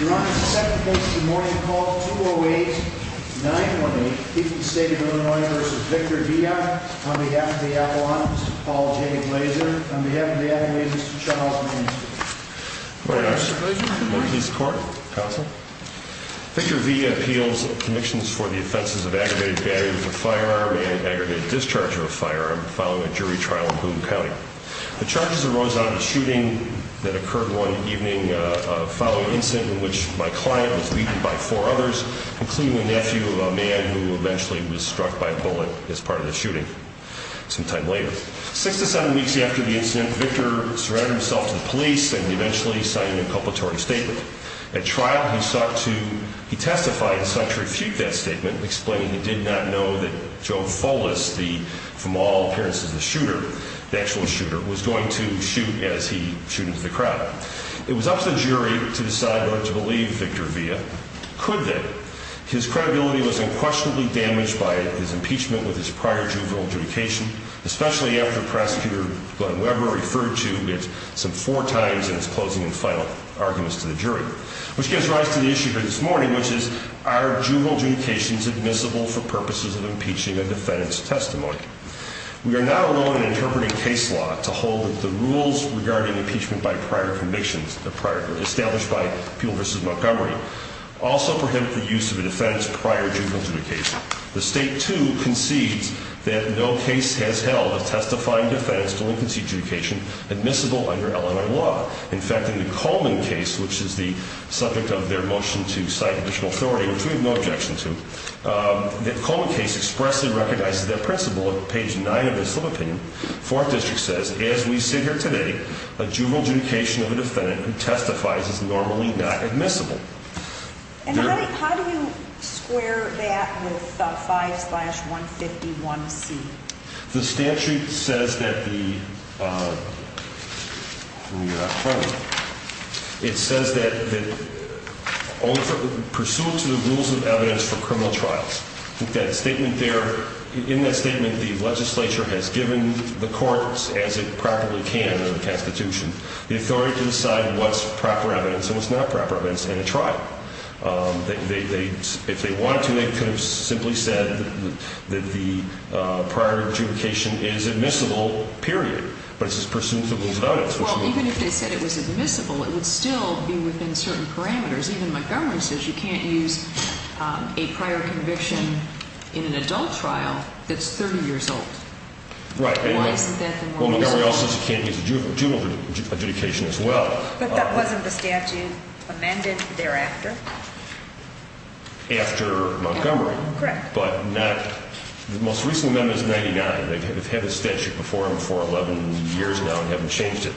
You're on the second case of the morning called 208-918, Eastern State of Illinois v. Victor Villa, on behalf of the Appalachians, Paul Jacob Laser, on behalf of the Appalachians, Mr. Charles Mansfield. Good morning, Mr. Laser. Good morning. Northeast Court. Counsel. Victor Villa appeals convictions for the offenses of aggravated battery with a firearm and aggravated discharge of a firearm following a jury trial in Hoonah County. The charges arose out of a shooting that occurred one evening following an incident in which my client was beaten by four others, including a nephew of a man who eventually was struck by a bullet as part of the shooting sometime later. Six to seven weeks after the incident, Victor surrendered himself to the police and eventually signed a culpatory statement. At trial, he testified and sought to refute that statement, explaining he did not know that Joe Fullis, from all appearances the shooter, the actual shooter, was going to shoot as he shoot into the crowd. It was up to the jury to decide whether to believe Victor Villa. Could they? His credibility was unquestionably damaged by his impeachment with his prior juvenile adjudication, especially after Prosecutor Glenn Weber referred to it some four times in his closing and final arguments to the jury, which gives rise to the issue for this morning, which is, are juvenile adjudications admissible for purposes of impeaching a defendant's testimony? We are now alone in interpreting case law to hold that the rules regarding impeachment by prior convictions established by Peel v. Montgomery also prohibit the use of a defendant's prior juvenile adjudication. The state, too, concedes that no case has held of testifying defense to a linquency adjudication admissible under Illinois law. In fact, in the Coleman case, which is the subject of their motion to cite additional authority, which we have no objection to, the Coleman case expressly recognizes that principle. On page nine of this sub-opinion, Fourth District says, as we sit here today, a juvenile adjudication of a defendant who testifies is normally not admissible. And how do you square that with 5-151C? The statute says that the, let me get out front of it, it says that only for, pursuant to the rules of evidence for criminal trials. That statement there, in that statement, the legislature has given the courts, as it probably can under the Constitution, the authority to decide what's proper evidence and what's not proper evidence in a trial. They, if they wanted to, they could have simply said that the prior adjudication is admissible, period. But it's pursuant to the rules of evidence. Well, even if they said it was admissible, it would still be within certain parameters. Even Montgomery says you can't use a prior conviction in an adult trial that's 30 years old. Right. Why isn't that the more reasonable? Well, Montgomery also says you can't use a juvenile adjudication as well. But that wasn't the statute amended thereafter? After Montgomery. Correct. But not, the most recent amendment is 99. They've had this statute before them for 11 years now and haven't changed it.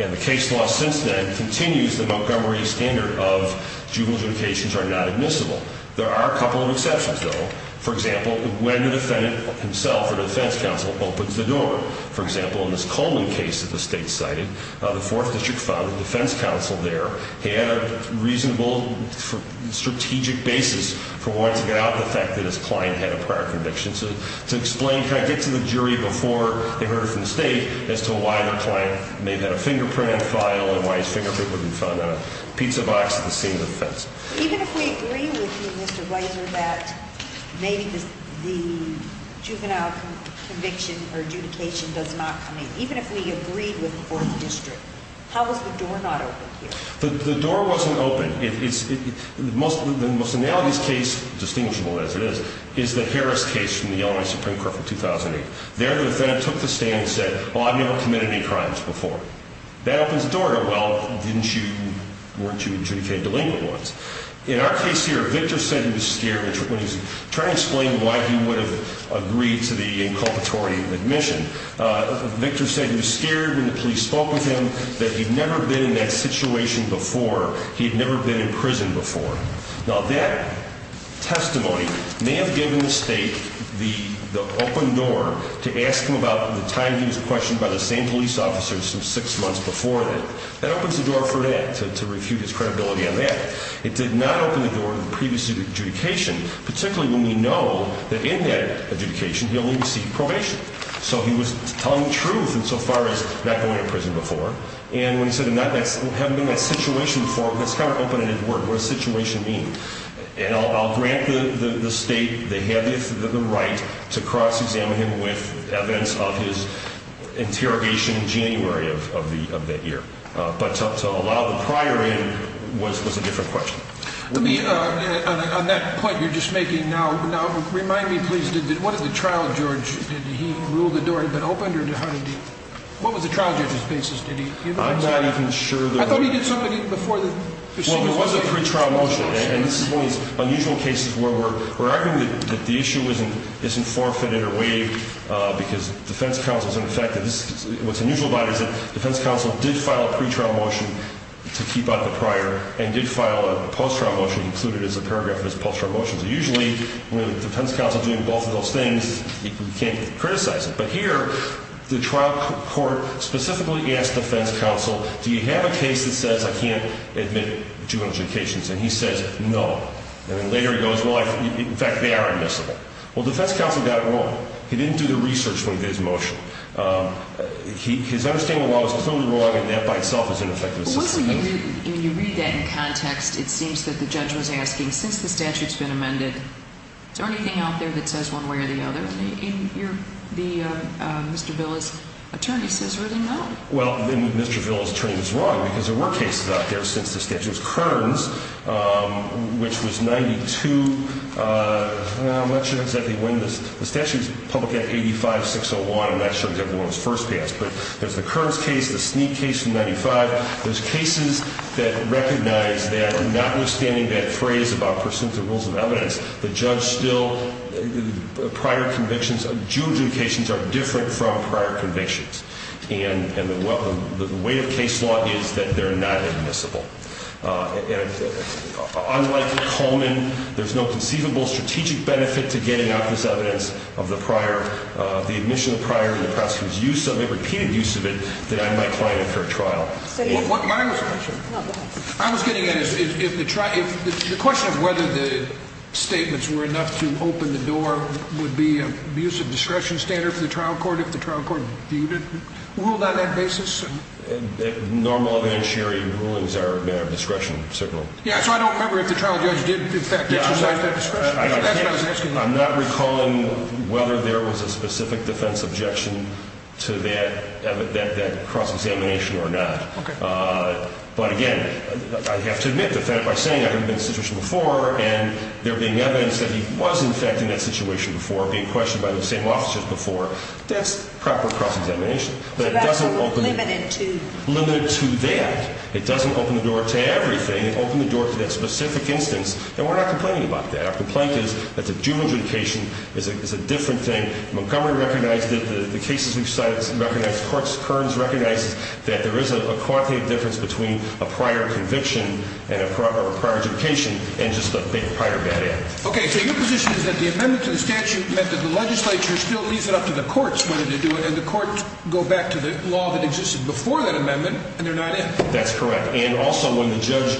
And the case law since then continues the Montgomery standard of juvenile adjudications are not admissible. There are a couple of exceptions, though. For example, when the defendant himself or the defense counsel opens the door. For example, in this Coleman case that the state cited, the fourth district filed a defense counsel there. He had a reasonable strategic basis for wanting to get out the fact that his client had a prior conviction. So to explain, kind of get to the jury before they heard it from the state as to why the client may have had a fingerprint on the file and why his fingerprint would be found on a pizza box at the scene of the offense. Even if we agree with you, Mr. Weiser, that maybe the juvenile conviction or adjudication does not come in, even if we agree with the fourth district, how is the door not open here? The door wasn't open. The most analogous case, distinguishable as it is, is the Harris case from the Illinois Supreme Court from 2008. There the defendant took the stand and said, well, I've never committed any crimes before. That opens the door to, well, weren't you adjudicated delinquent once? In our case here, Victor said he was scared when he was trying to explain why he would have agreed to the inculpatory admission. Victor said he was scared when the police spoke with him that he'd never been in that situation before. He had never been in prison before. Now, that testimony may have given the state the open door to ask him about the time he was questioned by the same police officers six months before that. That opens the door for that, to refute his credibility on that. It did not open the door to the previous adjudication, particularly when we know that in that adjudication he only received probation. So he was telling the truth insofar as not going to prison before. And when he said he hadn't been in that situation before, that's kind of open-ended word. What does situation mean? And I'll grant the state the right to cross-examine him with evidence of his interrogation in January of that year. But to allow the prior in was a different question. Let me, on that point you're just making now, remind me, please, what did the trial judge, did he rule the door had been opened? What was the trial judge's basis? I'm not even sure. I thought he did something before the procedure. Well, it was a pretrial motion. And this is one of these unusual cases where we're arguing that the issue isn't forfeited or waived because defense counsel is unaffected. And what's unusual about it is that defense counsel did file a pretrial motion to keep out the prior and did file a post-trial motion included as a paragraph of his post-trial motions. Usually, with defense counsel doing both of those things, you can't criticize it. But here, the trial court specifically asked defense counsel, do you have a case that says I can't admit two adjudications? And he says no. And then later he goes, well, in fact, they are admissible. Well, defense counsel got it wrong. He didn't do the research when he did his motion. His understanding of the law was totally wrong, and that by itself is ineffective assistance. When you read that in context, it seems that the judge was asking, since the statute has been amended, is there anything out there that says one way or the other? And Mr. Villa's attorney says really no. Well, then Mr. Villa's attorney was wrong because there were cases out there since the statute was Kearns, which was 92. I'm not sure exactly when. The statute is public at 85-601. I'm not sure exactly when it was first passed. But there's the Kearns case, the Snead case from 95. There's cases that recognize that notwithstanding that phrase about pursuant to the rules of evidence, the judge still, prior convictions, adjudications are different from prior convictions. And the weight of case law is that they're not admissible. And unlike Coleman, there's no conceivable strategic benefit to getting out this evidence of the prior, the admission of the prior and the prosecutor's use of it, repeated use of it, that I might find a fair trial. My question. No, go ahead. I was getting at if the question of whether the statements were enough to open the door would be an abuse of discretion standard for the trial court if the trial court ruled on that basis? Normal eventuary rulings are a matter of discretion, certainly. Yeah, so I don't remember if the trial judge did, in fact, exercise that discretion. That's what I was asking. I'm not recalling whether there was a specific defense objection to that cross-examination or not. Okay. But, again, I have to admit that by saying I've been in a situation before and there being evidence that he was, in fact, in that situation before, being questioned by the same officers before, that's proper cross-examination. But it doesn't open it. Limited to? Limited to that. It doesn't open the door to everything. It opened the door to that specific instance. And we're not complaining about that. Our complaint is that the juvenile adjudication is a different thing. Montgomery recognized it. The cases we've cited recognize it. Courts, currents recognize it, that there is a quantitative difference between a prior conviction or a prior adjudication and just a prior bad act. Okay. So your position is that the amendment to the statute meant that the legislature still leaves it up to the courts whether to do it, and the courts go back to the law that existed before that amendment, and they're not in. That's correct. And also when the judge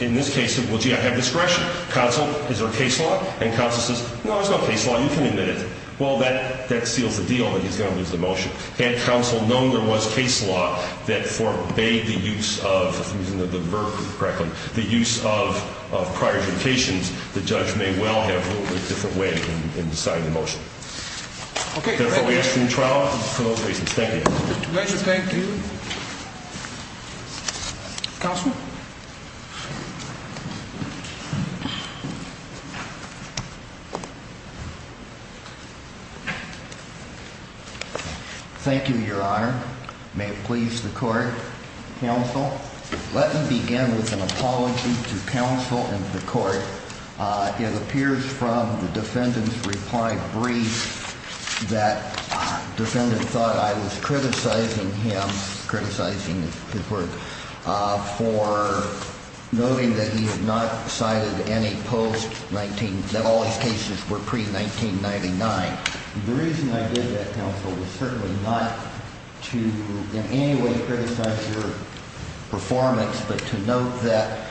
in this case said, Well, gee, I have discretion. Counsel, is there a case law? And counsel says, No, there's no case law. You can admit it. Well, that seals the deal that he's going to lose the motion. Had counsel known there was case law that forbade the use of, if I'm using the verb correctly, the use of prior adjudications, the judge may well have ruled a different way in deciding the motion. Okay. Therefore, we ask for your trial. Thank you. Pleasure. Thank you. Counselor? Thank you, Your Honor. May it please the court. Counsel, let me begin with an apology to counsel and the court. It appears from the defendant's reply brief that the defendant thought I was criticizing him, criticizing his word, for noting that he had not cited any post 19, that all his cases were pre-1999. The reason I did that, counsel, was certainly not to in any way criticize your performance, but to note that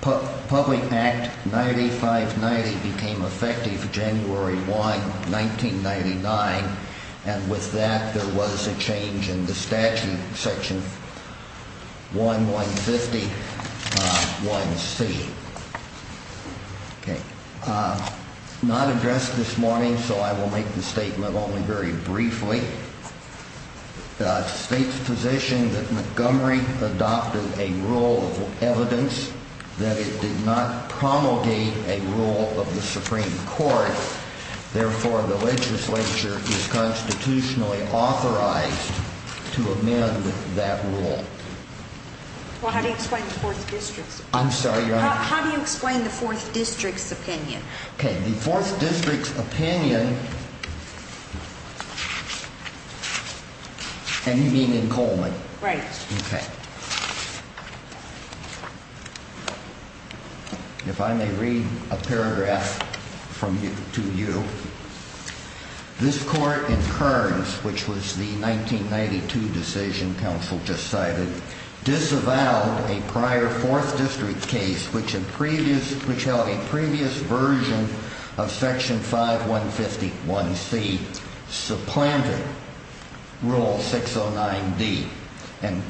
Public Act 9590 became effective January 1, 1999. And with that, there was a change in the statute, section 1, 150, 1C. Okay. Not addressed this morning, so I will make the statement only very briefly. The state's position that Montgomery adopted a rule of evidence that it did not promulgate a rule of the Supreme Court. Therefore, the legislature is constitutionally authorized to amend that rule. Well, how do you explain the Fourth District's opinion? I'm sorry, Your Honor? How do you explain the Fourth District's opinion? Okay. The Fourth District's opinion, and you mean in Coleman? Right. Okay. If I may read a paragraph to you. which held a previous version of Section 5151C supplanted Rule 609D and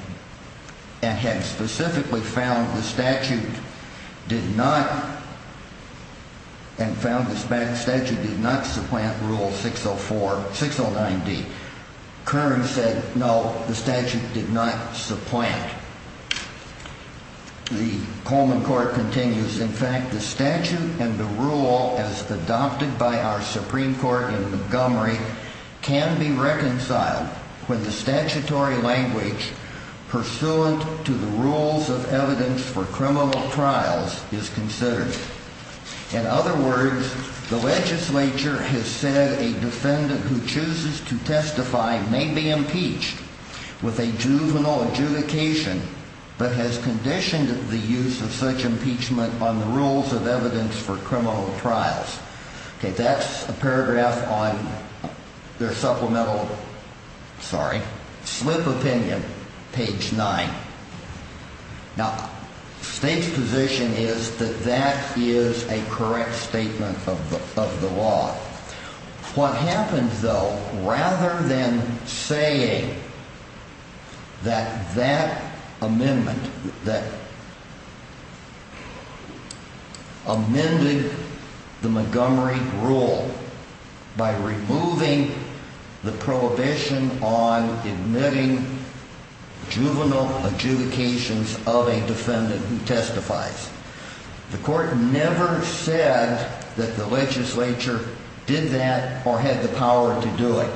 had specifically found the statute did not, and found the statute did not supplant Rule 604, 609D. Kern said no, the statute did not supplant. The Coleman Court continues. In fact, the statute and the rule as adopted by our Supreme Court in Montgomery can be reconciled when the statutory language pursuant to the rules of evidence for criminal trials is considered. In other words, the legislature has said a defendant who chooses to testify may be impeached with a juvenile adjudication, but has conditioned the use of such impeachment on the rules of evidence for criminal trials. Okay, that's a paragraph on their supplemental, sorry, slip opinion, page 9. Now, the State's position is that that is a correct statement of the law. What happens, though, rather than saying that that amendment, that amended the Montgomery rule by removing the prohibition on admitting juvenile adjudications of a defendant who testifies, the court never said that the legislature did that or had the power to do it.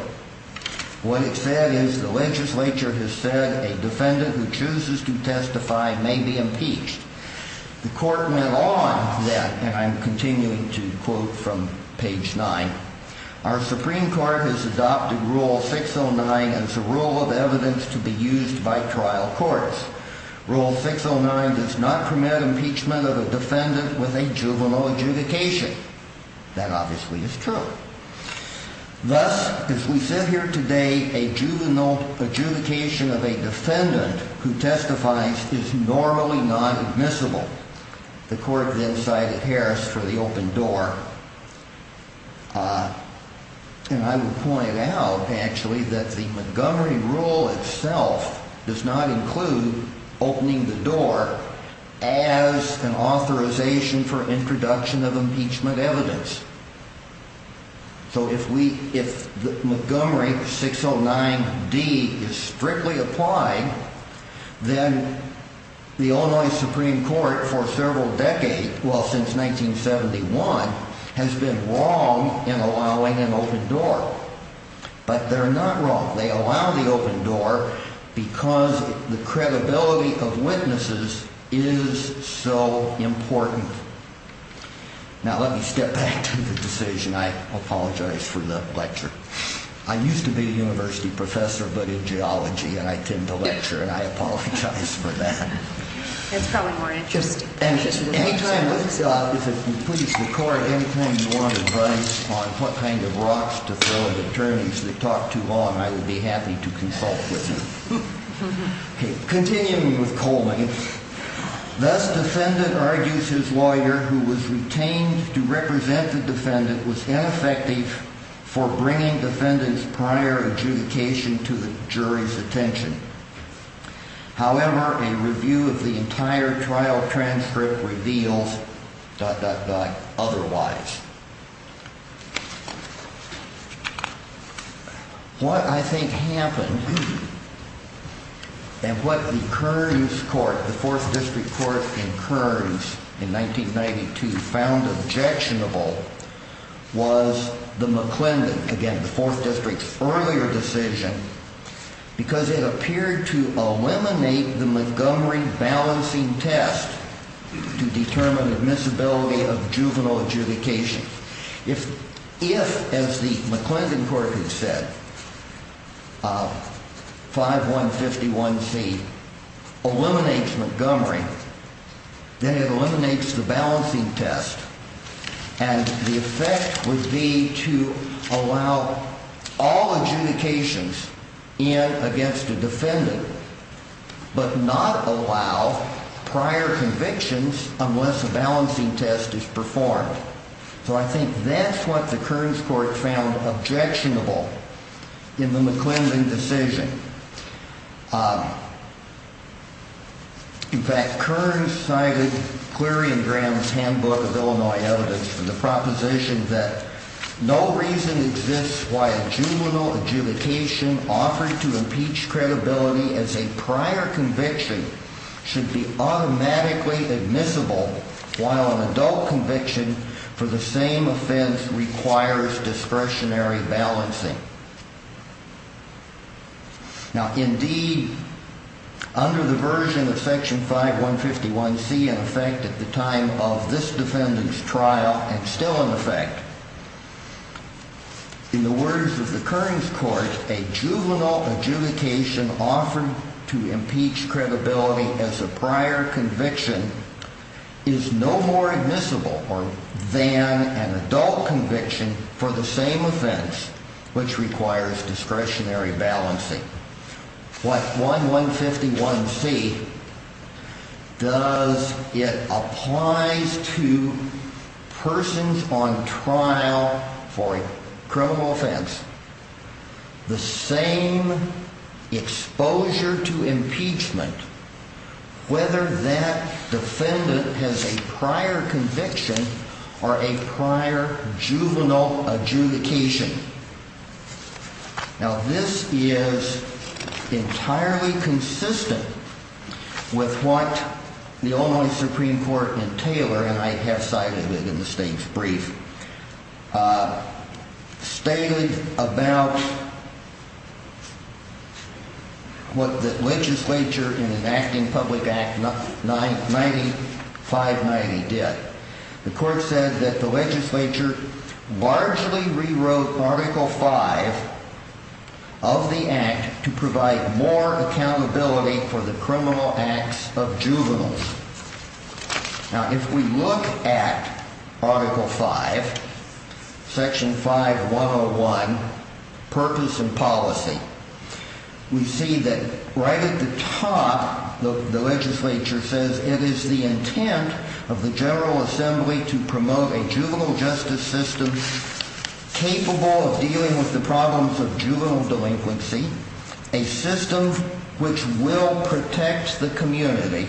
What it said is the legislature has said a defendant who chooses to testify may be impeached. The court went on that, and I'm continuing to quote from page 9. Our Supreme Court has adopted Rule 609 as a rule of evidence to be used by trial courts. Rule 609 does not permit impeachment of a defendant with a juvenile adjudication. That obviously is true. Thus, as we sit here today, a juvenile adjudication of a defendant who testifies is normally not admissible. The court then cited Harris for the open door. And I would point out, actually, that the Montgomery rule itself does not include opening the door as an authorization for introduction of impeachment evidence. So if Montgomery 609-D is strictly applied, then the Illinois Supreme Court, for several decades, well, since 1971, has been wrong in allowing an open door. But they're not wrong. They allow the open door because the credibility of witnesses is so important. Now, let me step back to the decision. I apologize for the lecture. I used to be a university professor, but in geology, and I tend to lecture, and I apologize for that. It's probably more interesting. If you could please record anything you want to write on what kind of rocks to throw at attorneys that talk too long, I would be happy to consult with you. Okay, continuing with Coleman. Thus, defendant argues his lawyer, who was retained to represent the defendant, was ineffective for bringing defendant's prior adjudication to the jury's attention. However, a review of the entire trial transcript reveals…otherwise. What I think happened, and what the Kearns Court, the 4th District Court in Kearns, in 1992, found objectionable, was the McClendon, again, the 4th District's earlier decision, because it appeared to eliminate the Montgomery balancing test to determine admissibility of juvenile adjudication. If, as the McClendon court had said, 5151C eliminates Montgomery, then it eliminates the balancing test, and the effect would be to allow all adjudications in against a defendant, but not allow prior convictions unless a balancing test is performed. So I think that's what the Kearns Court found objectionable in the McClendon decision. In fact, Kearns cited Cleary and Graham's handbook of Illinois evidence for the proposition that no reason exists why a juvenile adjudication offered to impeach credibility as a prior conviction should be automatically admissible, while an adult conviction for the same offense requires discretionary balancing. Now, indeed, under the version of Section 5151C, in effect, at the time of this defendant's trial, and still in effect, in the words of the Kearns Court, a juvenile adjudication offered to impeach credibility as a prior conviction is no more admissible than an adult conviction for the same offense, which requires discretionary balancing. What 5151C does, it applies to persons on trial for a criminal offense, the same exposure to impeachment, whether that defendant has a prior conviction or a prior juvenile adjudication. Now, this is entirely consistent with what the Illinois Supreme Court in Taylor, and I have cited it in the State's brief, stated about what the legislature in enacting Public Act 9590 did. The court said that the legislature largely rewrote Article 5 of the Act to provide more accountability for the criminal acts of juveniles. Now, if we look at Article 5, Section 5101, purpose and policy, we see that right at the top, the legislature says it is the intent of the General Assembly to promote a juvenile justice system capable of dealing with the problems of juvenile delinquency, a system which will protect the community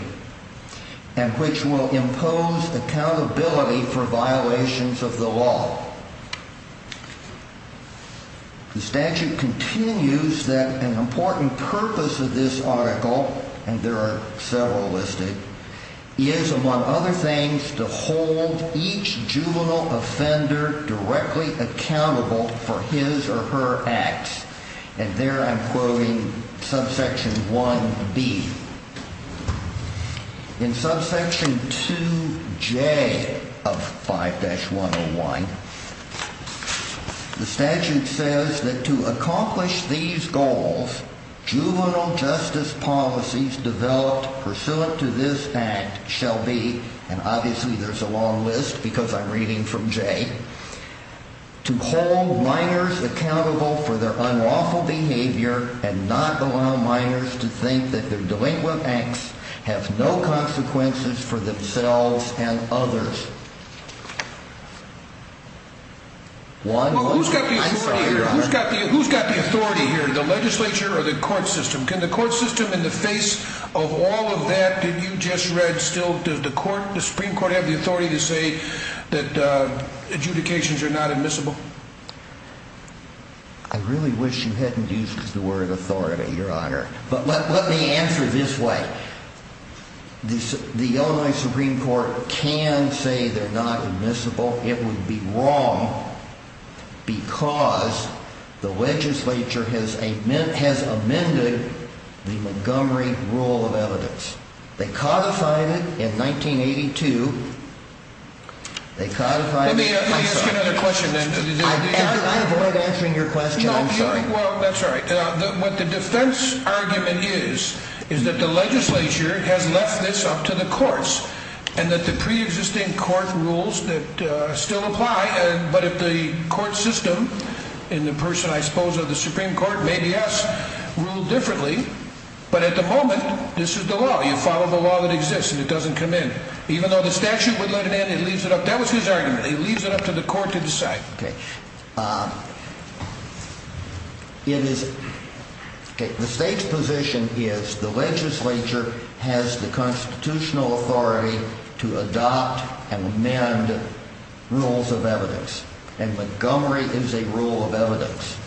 and which will impose accountability for violations of the law. The statute continues that an important purpose of this article, and there are several listed, is, among other things, to hold each juvenile offender directly accountable for his or her acts, and there I'm quoting subsection 1B. In subsection 2J of 5-101, the statute says that to accomplish these goals, juvenile justice policies developed pursuant to this Act shall be, and obviously there's a long list because I'm reading from J, to hold minors accountable for their unlawful behavior and not allow minors to think that their delinquent acts have no consequences for themselves and others. Who's got the authority here, the legislature or the court system? Can the court system in the face of all of that that you just read still, does the Supreme Court have the authority to say that adjudications are not admissible? I really wish you hadn't used the word authority, Your Honor, but let me answer this way. The Illinois Supreme Court can say they're not admissible. It would be wrong because the legislature has amended the Montgomery Rule of Evidence. They codified it in 1982. Let me ask you another question. I avoid answering your question, I'm sorry. Well, that's all right. What the defense argument is, is that the legislature has left this up to the courts and that the pre-existing court rules still apply, but if the court system and the person, I suppose, of the Supreme Court, maybe us, rule differently. But at the moment, this is the law. You follow the law that exists and it doesn't come in. Even though the statute would let it in, that was his argument. He leaves it up to the court to decide. The state's position is the legislature has the constitutional authority to adopt and amend rules of evidence, and Montgomery is a rule of evidence.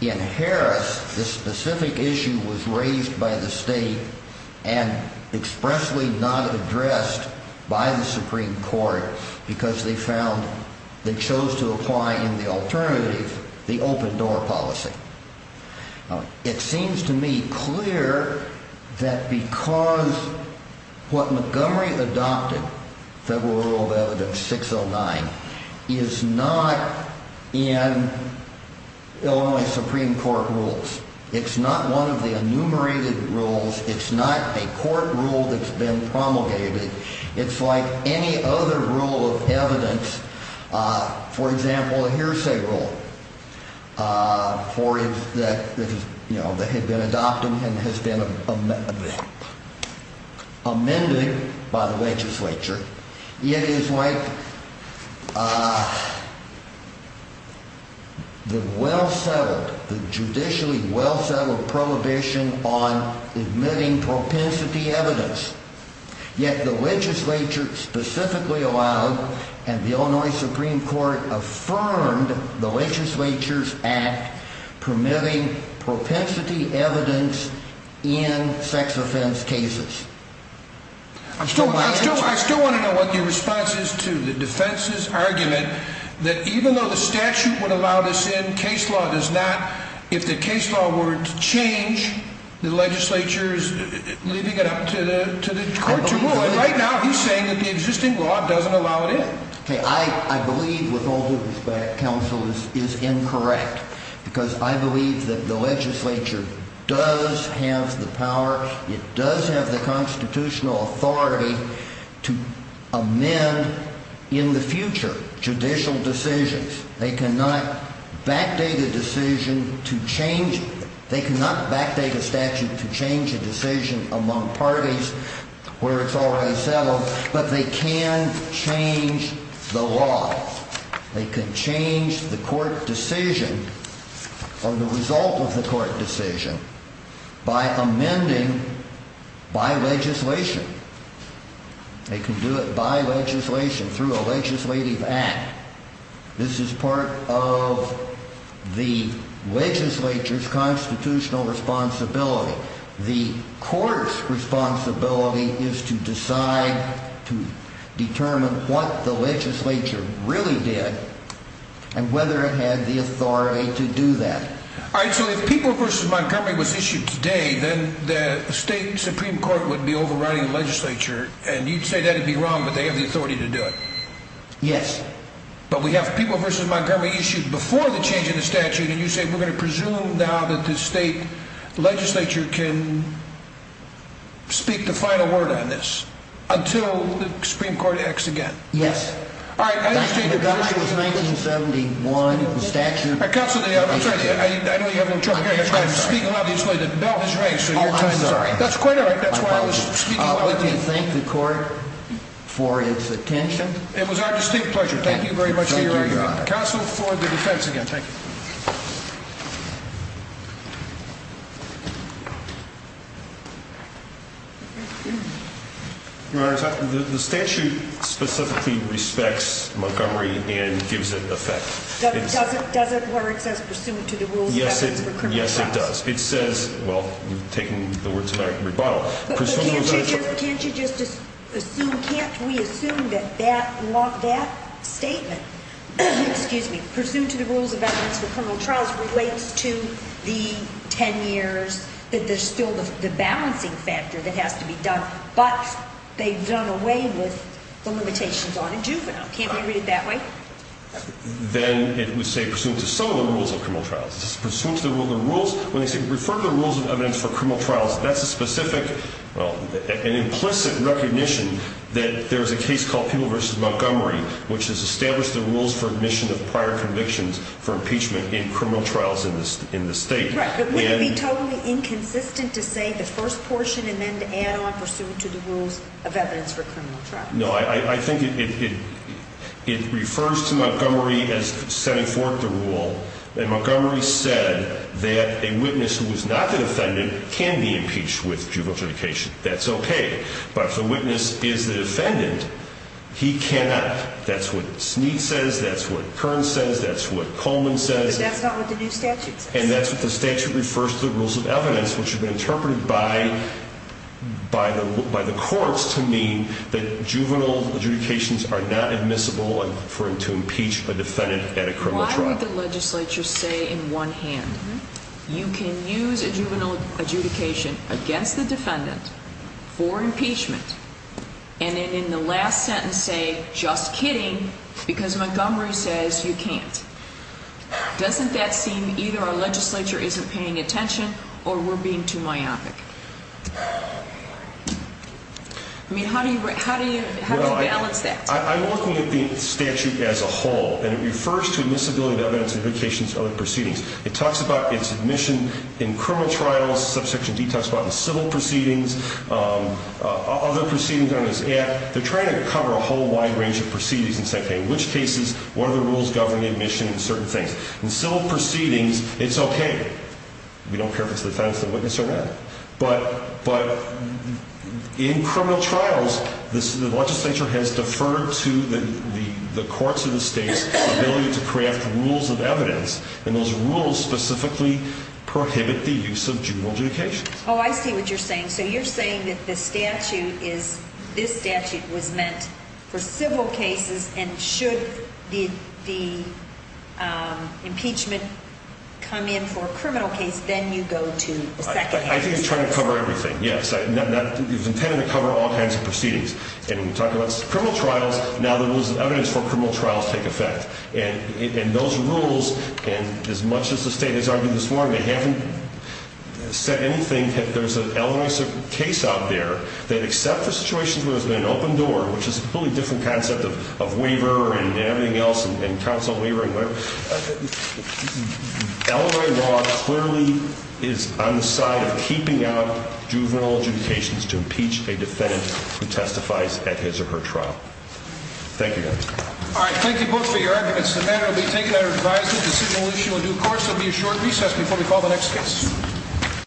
In Harris, this specific issue was raised by the state and expressly not addressed by the Supreme Court because they found, they chose to apply in the alternative the open door policy. It seems to me clear that because what Montgomery adopted, Federal Rule of Evidence 609, is not in Illinois Supreme Court rules. It's not one of the enumerated rules. It's not a court rule that's been promulgated. It's like any other rule of evidence, for example, a hearsay rule that had been adopted and has been amended by the legislature. It is like the well-settled, the judicially well-settled prohibition on admitting propensity evidence, yet the legislature specifically allowed and the Illinois Supreme Court affirmed the legislature's act permitting propensity evidence in sex offense cases. I still want to know what your response is to the defense's argument that even though the statute would allow this in, case law does not. If the case law were to change, the legislature's leaving it up to the court to rule. Right now, he's saying that the existing law doesn't allow it in. I believe with all due respect, counsel, this is incorrect because I believe that the legislature does have the power, it does have the constitutional authority to amend in the future judicial decisions. They cannot backdate a decision to change it. They cannot backdate a statute to change a decision among parties where it's already settled, but they can change the law. They can change the court decision or the result of the court decision by amending by legislation. They can do it by legislation through a legislative act. This is part of the legislature's constitutional responsibility. The court's responsibility is to decide, to determine what the legislature really did and whether it had the authority to do that. All right, so if People v. Montgomery was issued today, then the state Supreme Court would be overriding the legislature, and you'd say that'd be wrong, but they have the authority to do it. Yes. But we have People v. Montgomery issued before the change in the statute, and you say we're going to presume now that the state legislature can speak the final word on this until the Supreme Court acts again. Yes. All right, I understand your position. That was 1971, the statute. Counsel, I'm sorry, I know you have a little trouble hearing. I'm speaking loudly. The bell has rang, so your time is up. Oh, I'm sorry. I would like to thank the court for its attention. It was our distinct pleasure. Thank you very much, counsel, for the defense again. Thank you. Your Honor, the statute specifically respects Montgomery and gives it effect. Does it where it says, pursuant to the rules of the criminal process? Yes, it does. It says, well, you've taken the words back and rebuttal. But can't you just assume, can't we assume that that statement, excuse me, pursuant to the rules of evidence for criminal trials relates to the 10 years, that there's still the balancing factor that has to be done, but they've done away with the limitations on a juvenile. Can't we read it that way? Then it would say, pursuant to some of the rules of criminal trials. It's pursuant to the rules, when they say refer to the rules of evidence for criminal trials, that's a specific, an implicit recognition that there's a case called People v. Montgomery, which has established the rules for admission of prior convictions for impeachment in criminal trials in the state. Right, but wouldn't it be totally inconsistent to say the first portion and then to add on pursuant to the rules of evidence for criminal trials? No, I think it refers to Montgomery as setting forth the rule. And Montgomery said that a witness who is not the defendant can be impeached with juvenile litigation. That's OK. But if the witness is the defendant, he cannot. That's what Sneed says. That's what Kern says. That's what Coleman says. That's not what the new statute says. And that's what the statute refers to, the rules of evidence, which have been interpreted by the courts to mean that juvenile adjudications are not admissible for him to impeach a defendant at a criminal trial. Why would the legislature say in one hand, you can use a juvenile adjudication against the defendant for impeachment, and then in the last sentence say, just kidding, because Montgomery says you can't. Doesn't that seem either our legislature isn't paying attention or we're being too myopic? I mean, how do you balance that? I'm looking at the statute as a whole, and it refers to admissibility of evidence, adjudications, and other proceedings. It talks about its admission in criminal trials. Subsection D talks about the civil proceedings, other proceedings on this act. They're trying to cover a whole wide range of proceedings and say, okay, which cases, what are the rules governing admission and certain things? In civil proceedings, it's okay. We don't care if it's the defense, the witness, or not. But in criminal trials, the legislature has deferred to the courts or the states' ability to craft rules of evidence, and those rules specifically prohibit the use of juvenile adjudications. Oh, I see what you're saying. So you're saying that the statute is, this statute was meant for civil cases, and should the impeachment come in for a criminal case, then you go to the second case? I think it's trying to cover everything, yes. It was intended to cover all kinds of proceedings. And when you talk about criminal trials, now the rules of evidence for criminal trials take effect. And those rules, and as much as the state has argued this morning, they haven't said anything. There's an LRA case out there that, except for situations where there's been an open door, which is a completely different concept of waiver and everything else, and counsel waiver and whatever, LRA law clearly is on the side of keeping out juvenile adjudications to impeach a defendant who testifies at his or her trial. Thank you. All right. Thank you both for your arguments. The matter will be taken under advisory decision on the issue in due course. There will be a short recess before we call the next case.